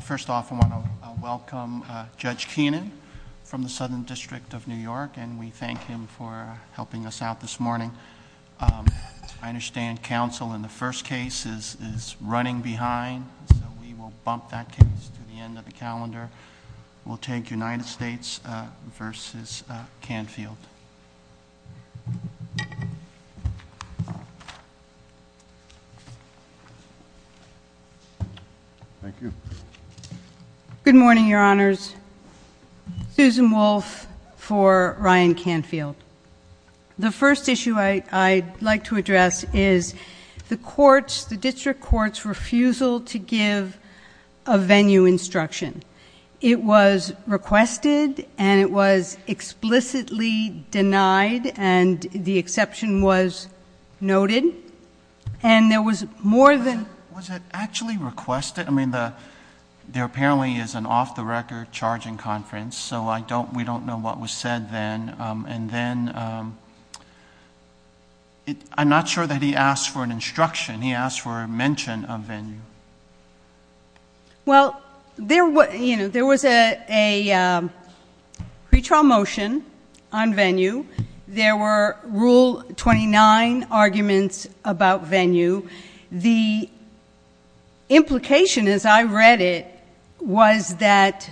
First off, I want to welcome Judge Keenan from the Southern District of New York, and we thank him for helping us out this morning. I understand counsel in the first case is running behind, so we will bump that case to the end of the calendar. We will take United States v. Canfield. Good morning, Your Honors. Susan Wolfe for Ryan Canfield. The first issue I would like to address is the District Court's refusal to give a venue instruction. It was requested, and it was explicitly denied, and the exception was noted, and there was more than... Was it actually requested? I mean, there apparently is an off-the-record charging conference, so we don't know what was said then, and then... I'm not sure that he asked for an instruction. He asked for a mention of venue. Well, there was a pre-trial motion on venue. There were Rule 29 arguments about venue. The implication, as I read it, was that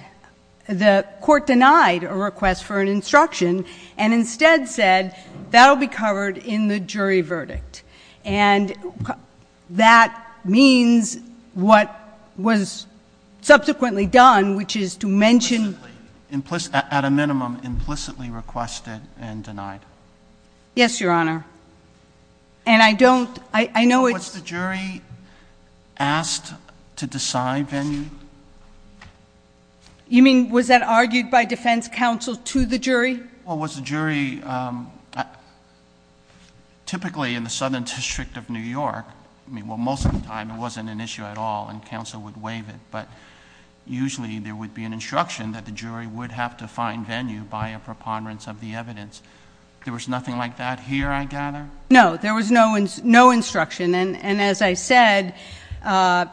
the Court denied a request for an instruction and instead said, that will be covered in the jury verdict. And that means what was subsequently done, which is to mention... Implicitly. At a minimum, implicitly requested and denied. Yes, Your Honor. And I don't... I know it's... Was the jury asked to decide venue? You mean, was that argued by defense counsel to the jury? Was the jury... Typically, in the Southern District of New York, I mean, well, most of the time it wasn't an issue at all, and counsel would waive it, but usually there would be an instruction that the jury would have to find venue by a preponderance of the evidence. There was nothing like that here, I gather? No. There was no instruction, and as I said, the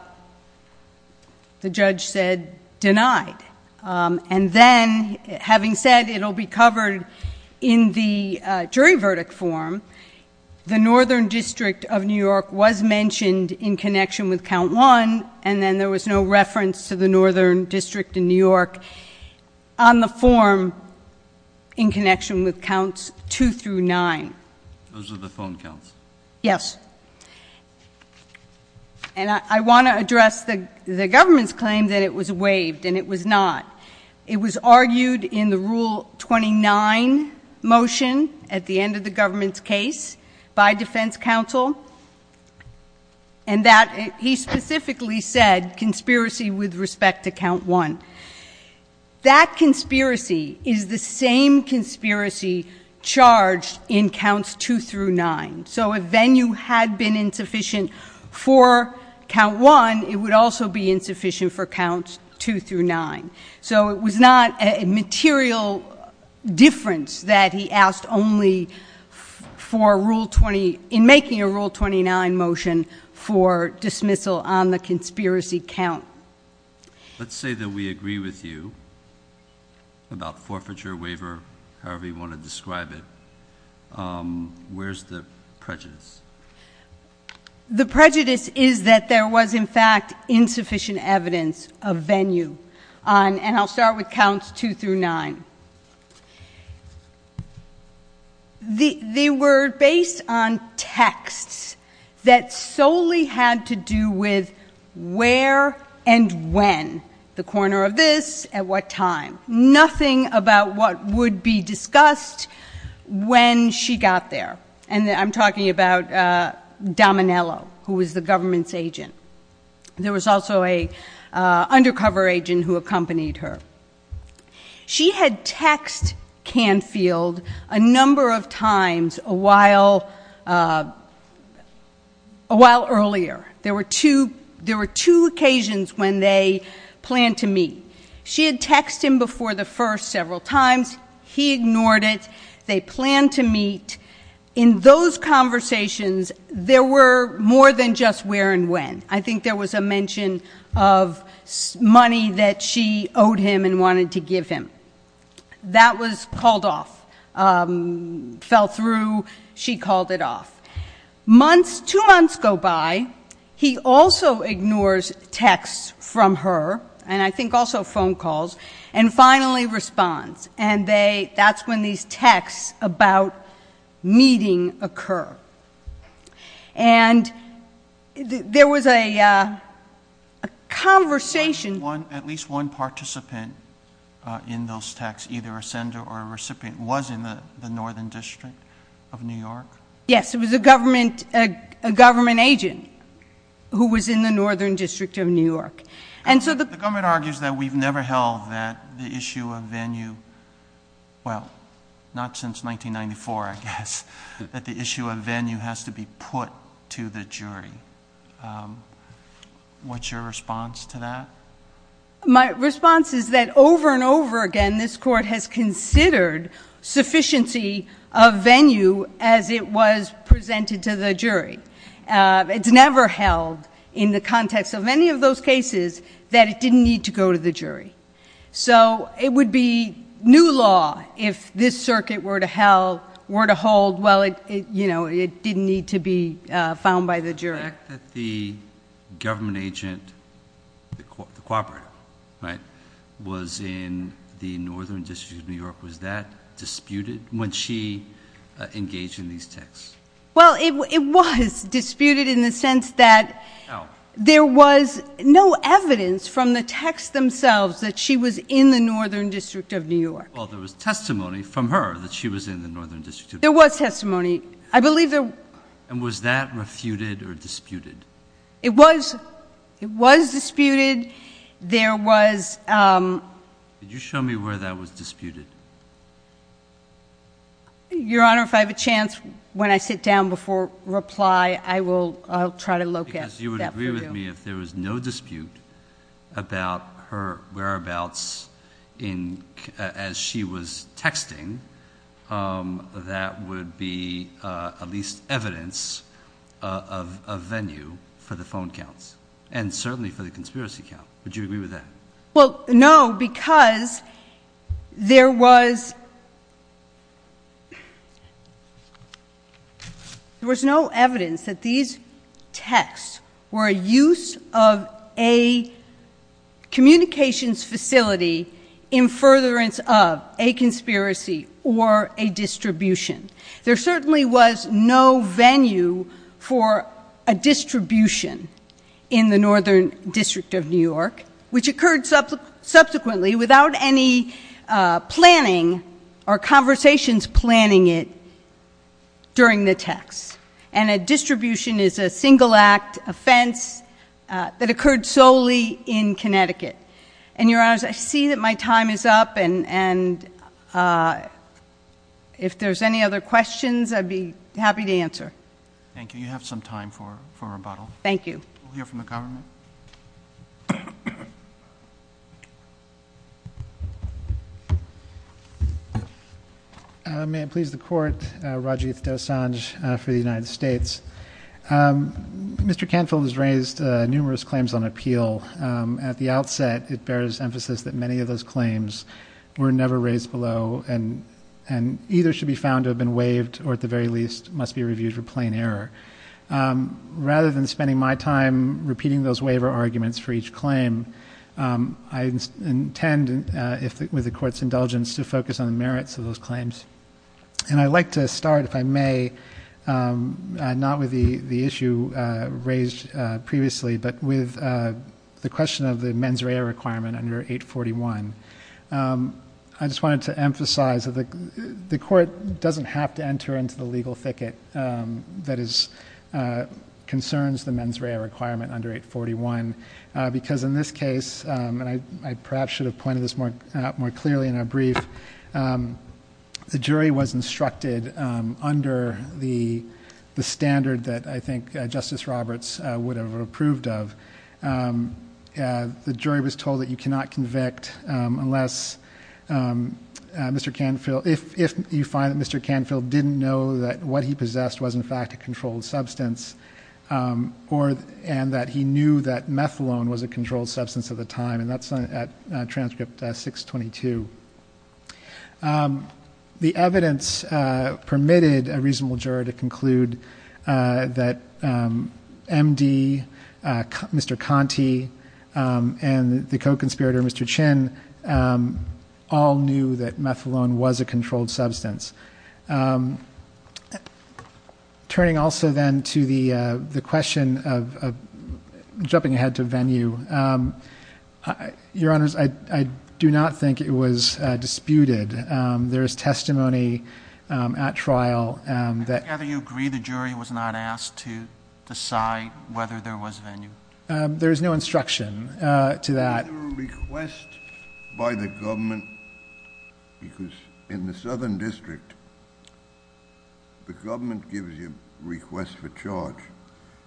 judge said, denied. And then, having said, it'll be covered in the jury verdict form, the Northern District of New York was mentioned in connection with Count 1, and then there was no reference to the Northern District in New York on the form in connection with Counts 2 through 9. Those were the phone counts? Yes. And I want to address the government's claim that it was waived, and it was not. It was argued in the Rule 29 motion at the end of the government's case by defense counsel, and that he specifically said, conspiracy with respect to Count 1. That conspiracy is the same conspiracy charged in Counts 2 through 9. So, if venue had been insufficient for Count 1, it would also be insufficient for Counts 2 through 9. So, it was not a material difference that he asked only in making a Rule 29 motion for dismissal on the conspiracy count. Let's say that we agree with you about forfeiture, waiver, however you want to describe it. Where's the prejudice? The prejudice is that there was, in fact, insufficient evidence of venue on, and I'll start with Counts 2 through 9. They were based on texts that solely had to do with where and when, the corner of this, at what time. Nothing about what would be discussed when she got there. And I'm talking about Dominello, who was the government's agent. There was also an undercover agent who accompanied her. She had text Canfield a number of times a while earlier. There were two occasions when they planned to meet. She had text him before the first several times. He ignored it. They planned to meet. In those conversations, there were more than just where and when. I think there was a mention of money that she owed him and wanted to give him. That was called off, fell through. She called it off. Two months go by. He also ignores texts from her, and I think also phone calls, and finally responds. And that's when these texts about meeting occur. And there was a conversation. At least one participant in those texts, either a sender or a recipient, was in the northern district of New York? Yes, it was a government agent who was in the northern district of New York. And so the- The government argues that we've never held that the issue of venue, well, not since 1994, I guess, that the issue of venue has to be put to the jury. What's your response to that? My response is that over and over again, this court has considered sufficiency of venue as it was presented to the jury. It's never held in the context of any of those cases that it didn't need to go to the jury. So it would be new law if this circuit were to hold, well, it didn't need to be found by the jury. The fact that the government agent, the co-operative, right, was in the northern district of New York, was that disputed when she engaged in these texts? Well, it was disputed in the sense that there was no evidence from the texts themselves that she was in the northern district of New York. Well, there was testimony from her that she was in the northern district of New York. There was testimony. I believe there- And was that refuted or disputed? It was, it was disputed. There was- Could you show me where that was disputed? Your Honor, if I have a chance, when I sit down before reply, I will try to locate that for you. Because you would agree with me if there was no dispute about her whereabouts as she was texting, that would be at least evidence of a venue for the phone counts. And certainly for the conspiracy count. Would you agree with that? Well, no, because there was no evidence that these texts were a use of a communications facility in furtherance of a conspiracy or a distribution. There certainly was no venue for a distribution in the northern district of New York, which occurred subsequently without any planning or conversations planning it during the text. And a distribution is a single act offense that occurred solely in Connecticut. And your honors, I see that my time is up and if there's any other questions, I'd be happy to answer. Thank you, you have some time for rebuttal. Thank you. We'll hear from the government. May it please the court, Rajeev Dosanjh for the United States. Mr. Canfield has raised numerous claims on appeal. At the outset, it bears emphasis that many of those claims were never raised below and either should be found to have been waived or at the very least must be reviewed for plain error. Rather than spending my time repeating those waiver arguments for each claim, I intend, with the court's indulgence, to focus on the merits of those claims. And I'd like to start, if I may, not with the issue raised previously, but with the question of the mens rea requirement under 841. I just wanted to emphasize that the court doesn't have to enter into the legal ticket that concerns the mens rea requirement under 841. Because in this case, and I perhaps should have pointed this out more clearly in our brief, the jury was instructed under the standard that I think Justice Roberts would have approved of. The jury was told that you cannot convict unless Mr. Canfield, didn't know that what he possessed was in fact a controlled substance. And that he knew that methylone was a controlled substance at the time, and that's at transcript 622. The evidence permitted a reasonable juror to conclude that MD, Mr. Conti, and the co-conspirator, Mr. Chin, all knew that methylone was a controlled substance. Turning also then to the question of jumping ahead to venue. Your honors, I do not think it was disputed. There is testimony at trial that- I gather you agree the jury was not asked to decide whether there was venue? There is no instruction to that. Was there a request by the government, because in the Southern District, the government gives you requests for charge,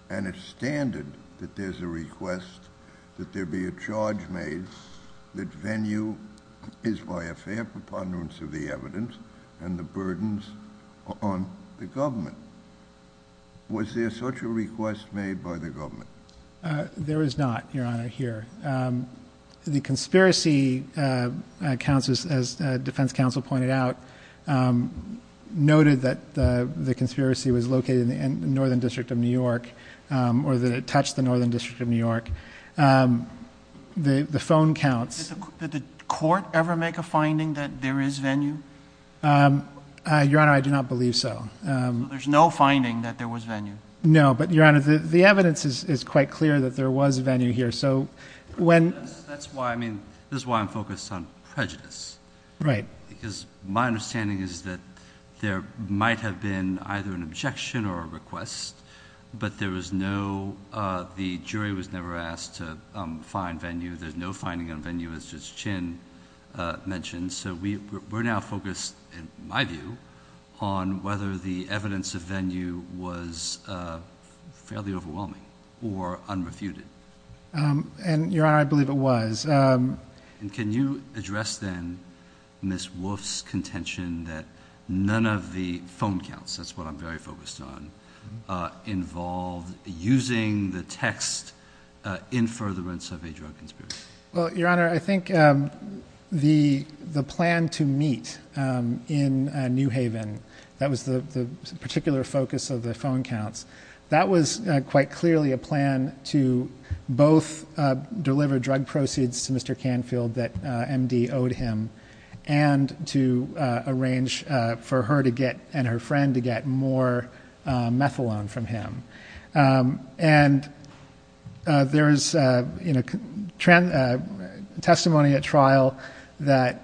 and it's standard that there's a request that there be a charge made that venue is by a fair preponderance of the evidence and the burdens on the government. There is not, your honor, here. The conspiracy counts as defense counsel pointed out, noted that the conspiracy was located in the Northern District of New York, or that it touched the Northern District of New York. The phone counts. Did the court ever make a finding that there is venue? Your honor, I do not believe so. There's no finding that there was venue. No, but your honor, the evidence is quite clear that there was venue here, so when- That's why I mean, this is why I'm focused on prejudice. Right. Because my understanding is that there might have been either an objection or a request, but there was no, the jury was never asked to find venue. There's no finding on venue, it's just Chin mentioned. So we're now focused, in my view, on whether the evidence of venue was fairly overwhelming or unrefuted. And your honor, I believe it was. And can you address then Ms. Wolfe's contention that none of the phone counts, that's what I'm very focused on, involved using the text in furtherance of a drug conspiracy? Well, your honor, I think the plan to meet in New Haven, that was the particular focus of the phone counts. That was quite clearly a plan to both deliver drug proceeds to Mr. Canfield that MD owed him, and to arrange for her and her friend to get more methylone from him. And there is testimony at trial that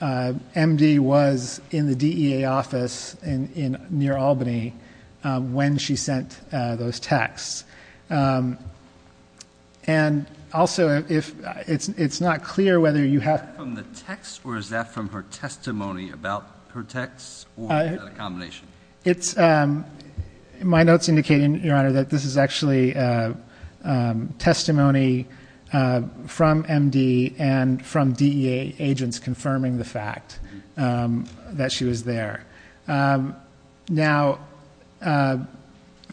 MD was in the DEA office near Albany when she sent those texts. And also, it's not clear whether you have- Is that from the text or is that from her testimony about her texts or a combination? It's, my notes indicate, your honor, that this is actually testimony from MD and from DEA agents confirming the fact that she was there. Now,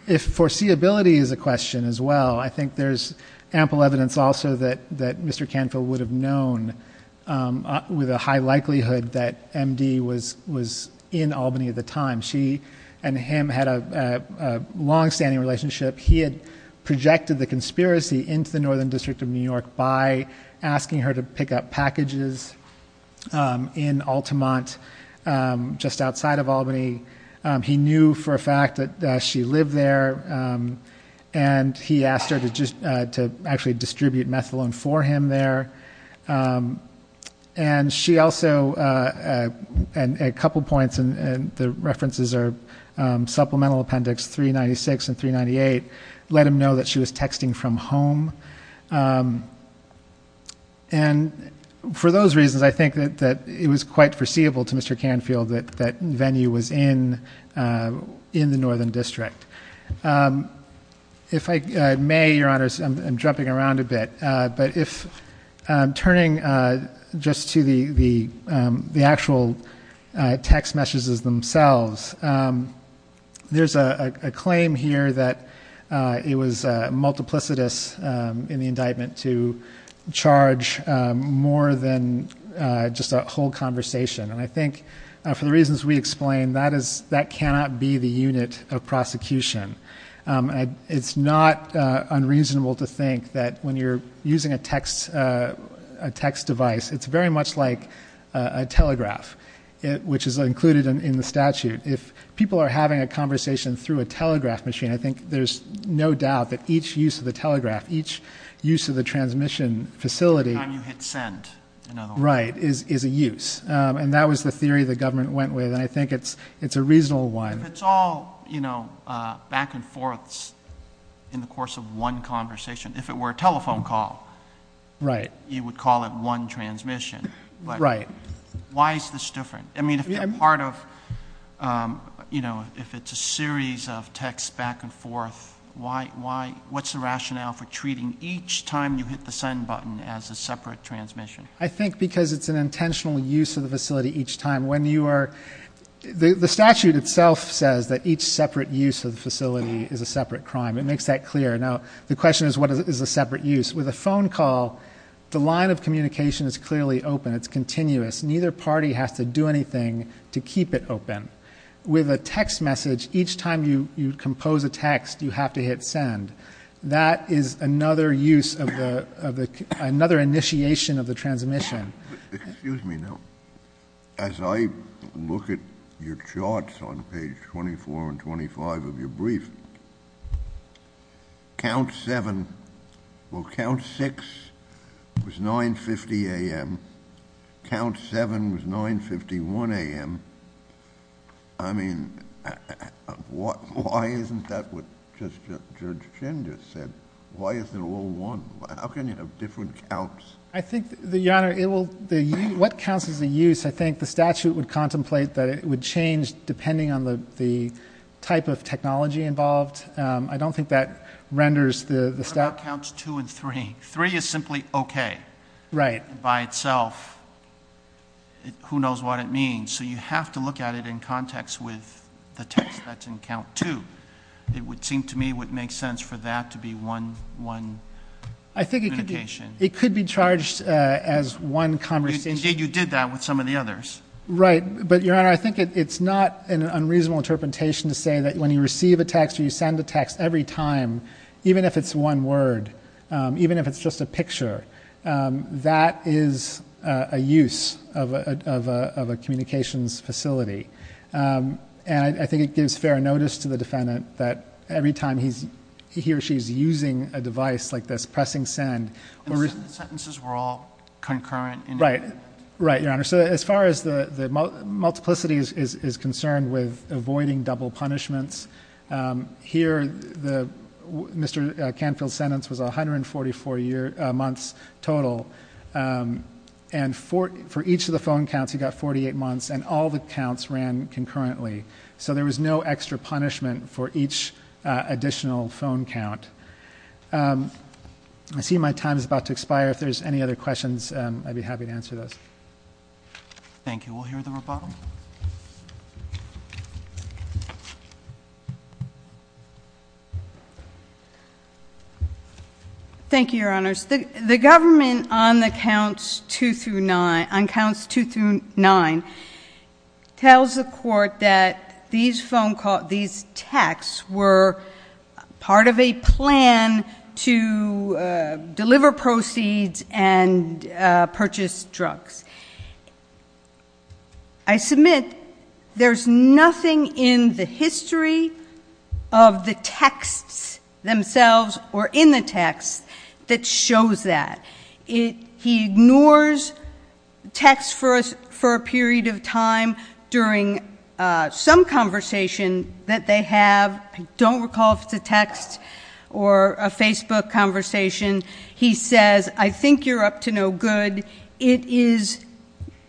if foreseeability is a question as well, I think there's ample evidence also that Mr. Canfield would have known with a high likelihood that MD was in Albany at the time. She and him had a longstanding relationship. He had projected the conspiracy into the Northern District of New York by asking her to pick up packages in Altamont, just outside of Albany. He knew for a fact that she lived there, and he asked her to actually distribute methylone for him there. And she also, and a couple points, and the references are Supplemental Appendix 396 and 398. Let him know that she was texting from home. And for those reasons, I think that it was quite foreseeable to Mr. Canfield that Venue was in the Northern District. If I may, your honors, I'm jumping around a bit. But if I'm turning just to the actual text messages themselves. There's a claim here that it was multiplicitous in the indictment to charge more than just a whole conversation. And I think for the reasons we explained, that cannot be the unit of prosecution. And it's not unreasonable to think that when you're using a text device, it's very much like a telegraph, which is included in the statute. If people are having a conversation through a telegraph machine, I think there's no doubt that each use of the telegraph, each use of the transmission facility- The time you hit send, in other words. Right, is a use. And that was the theory the government went with, and I think it's a reasonable one. If it's all back and forths in the course of one conversation, if it were a telephone call, you would call it one transmission. Right. Why is this different? I mean, if it's a series of texts back and forth, what's the rationale for treating each time you hit the send button as a separate transmission? I think because it's an intentional use of the facility each time. When you are, the statute itself says that each separate use of the facility is a separate crime. It makes that clear. Now, the question is, what is a separate use? With a phone call, the line of communication is clearly open. It's continuous. Neither party has to do anything to keep it open. With a text message, each time you compose a text, you have to hit send. That is another use of the, another initiation of the transmission. Excuse me now. As I look at your charts on page 24 and 25 of your brief, count seven, well, count six was 9.50 a.m. Count seven was 9.51 a.m. I mean, why isn't that what Judge Chin just said? Why isn't it all one? How can you have different counts? I think, your honor, what counts as a use? I think the statute would contemplate that it would change depending on the type of technology involved. I don't think that renders the- What about counts two and three? Three is simply okay. Right. By itself, who knows what it means? So you have to look at it in context with the text that's in count two. It would seem to me would make sense for that to be one, one. I think it could be. It could be charged as one conversation. You did that with some of the others. Right. But, your honor, I think it's not an unreasonable interpretation to say that when you receive a text or you send a text every time, even if it's one word, even if it's just a picture, that is a use of a communications facility. And I think it gives fair notice to the defendant that every time he or she's using a device like this, pressing send, we're- Sentences were all concurrent in- Right, right, your honor. So as far as the multiplicity is concerned with avoiding double punishments, here, Mr. Canfield's sentence was 144 months total. And for each of the phone counts, he got 48 months, and all the counts ran concurrently. So there was no extra punishment for each additional phone count. I see my time is about to expire. If there's any other questions, I'd be happy to answer those. Thank you. We'll hear the rebuttal. Thank you, your honors. The government on the counts two through nine, on counts two through nine, Tells the court that these phone calls, these texts were part of a plan to deliver proceeds and purchase drugs. I submit there's nothing in the history of the texts themselves or in the text that shows that. He ignores texts for a period of time during some conversation that they have. I don't recall if it's a text or a Facebook conversation. He says, I think you're up to no good. It is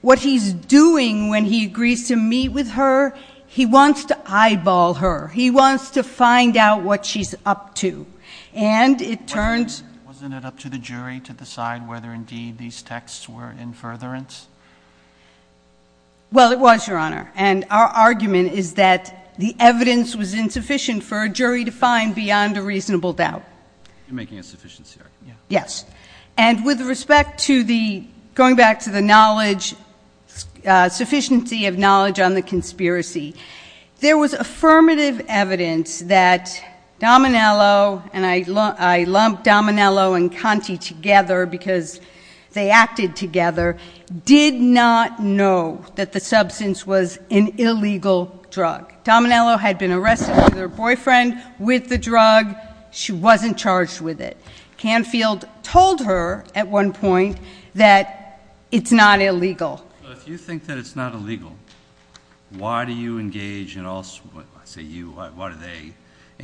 what he's doing when he agrees to meet with her. He wants to eyeball her. He wants to find out what she's up to. And it turns- Outside whether indeed these texts were in furtherance? Well, it was, your honor. And our argument is that the evidence was insufficient for a jury to find beyond a reasonable doubt. You're making a sufficiency argument, yeah. Yes. And with respect to the, going back to the knowledge, sufficiency of knowledge on the conspiracy, there was affirmative evidence that when I lumped Dominello and Conte together because they acted together, did not know that the substance was an illegal drug. Dominello had been arrested with her boyfriend with the drug. She wasn't charged with it. Canfield told her at one point that it's not illegal. If you think that it's not illegal, why do you engage in all, I say you, why do they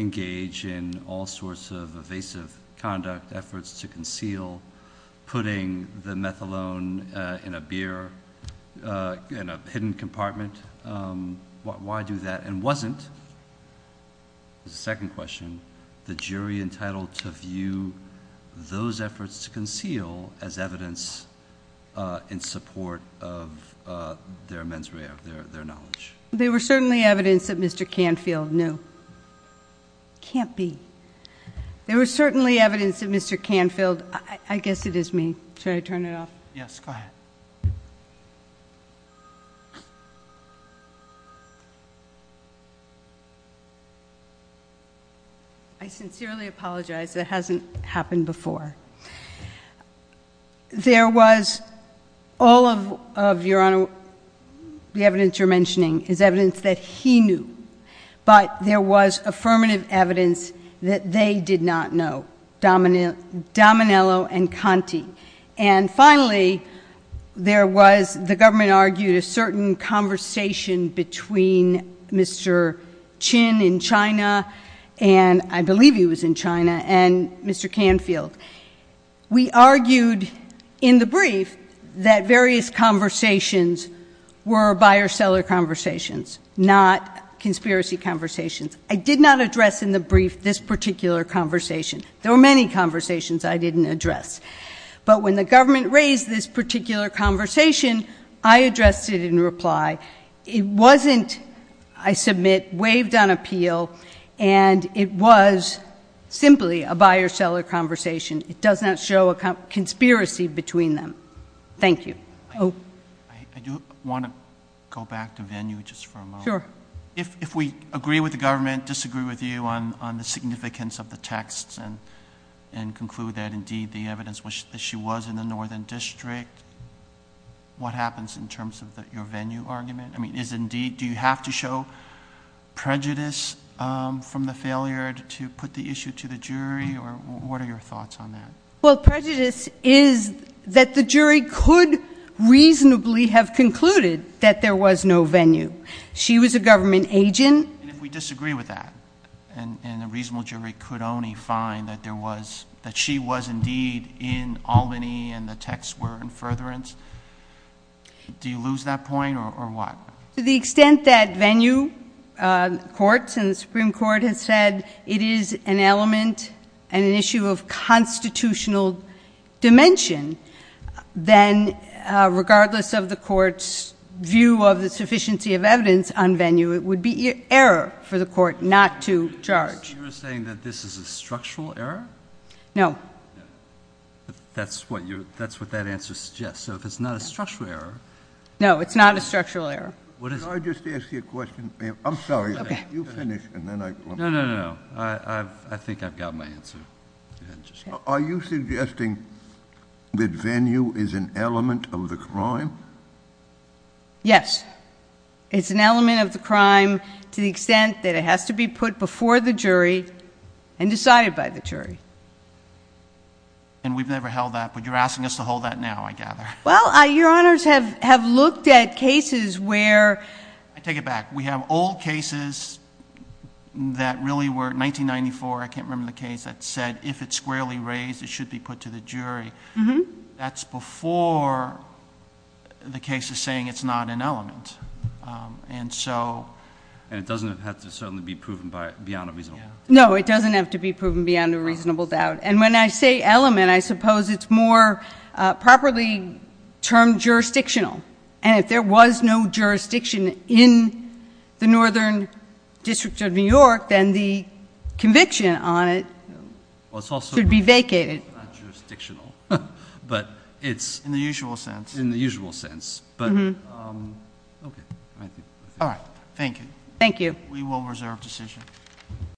engage in all sorts of evasive conduct, efforts to conceal, putting the methalone in a beer, in a hidden compartment? Why do that? And wasn't, second question, the jury entitled to view those efforts to conceal as evidence in support of their mens rea, their knowledge? There were certainly evidence that Mr. Canfield knew. Can't be. There was certainly evidence that Mr. Canfield, I guess it is me. Should I turn it off? Yes, go ahead. I sincerely apologize. That hasn't happened before. There was, all of your honor, the evidence you're mentioning is evidence that he knew. But there was affirmative evidence that they did not know, Dominello and Conte. And finally, there was, the government argued a certain conversation between Mr. Chin in China, and I believe he was in China, and Mr. Canfield. We argued in the brief that various conversations were buyer-seller conversations, not conspiracy conversations. I did not address in the brief this particular conversation. There were many conversations I didn't address. But when the government raised this particular conversation, I addressed it in reply. It wasn't, I submit, waived on appeal, and it was simply a buyer-seller conversation. It does not show a conspiracy between them. Thank you. I do want to go back to venue just for a moment. Sure. If we agree with the government, disagree with you on the significance of the texts and conclude that indeed the evidence was that she was in the northern district, what happens in terms of your venue argument? I mean, is indeed, do you have to show prejudice from the failure to put the issue to the jury, or what are your thoughts on that? Well, prejudice is that the jury could reasonably have concluded that there was no venue. She was a government agent. And if we disagree with that, and a reasonable jury could only find that she was indeed in Albany and the texts were in furtherance, do you lose that point, or what? To the extent that venue, courts and the Supreme Court has said it is an element and an issue of constitutional dimension, then it's an error for the court not to charge. You're saying that this is a structural error? No. That's what that answer suggests. So if it's not a structural error. No, it's not a structural error. What is it? Can I just ask you a question, ma'am? I'm sorry, you finish, and then I- No, no, no, I think I've got my answer. Are you suggesting that venue is an element of the crime? Yes. It's an element of the crime to the extent that it has to be put before the jury and decided by the jury. And we've never held that, but you're asking us to hold that now, I gather. Well, your honors have looked at cases where- I take it back. We have old cases that really were, 1994, I can't remember the case, that said if it's squarely raised, it should be put to the jury. That's before the case is saying it's not an element. And so- And it doesn't have to certainly be proven beyond a reasonable doubt. No, it doesn't have to be proven beyond a reasonable doubt. And when I say element, I suppose it's more properly termed jurisdictional. And if there was no jurisdiction in the Northern District of New York, then the conviction on it should be vacated. It's not jurisdictional, but it's- In the usual sense. In the usual sense. But, okay, I think- All right, thank you. Thank you. We will reserve decision.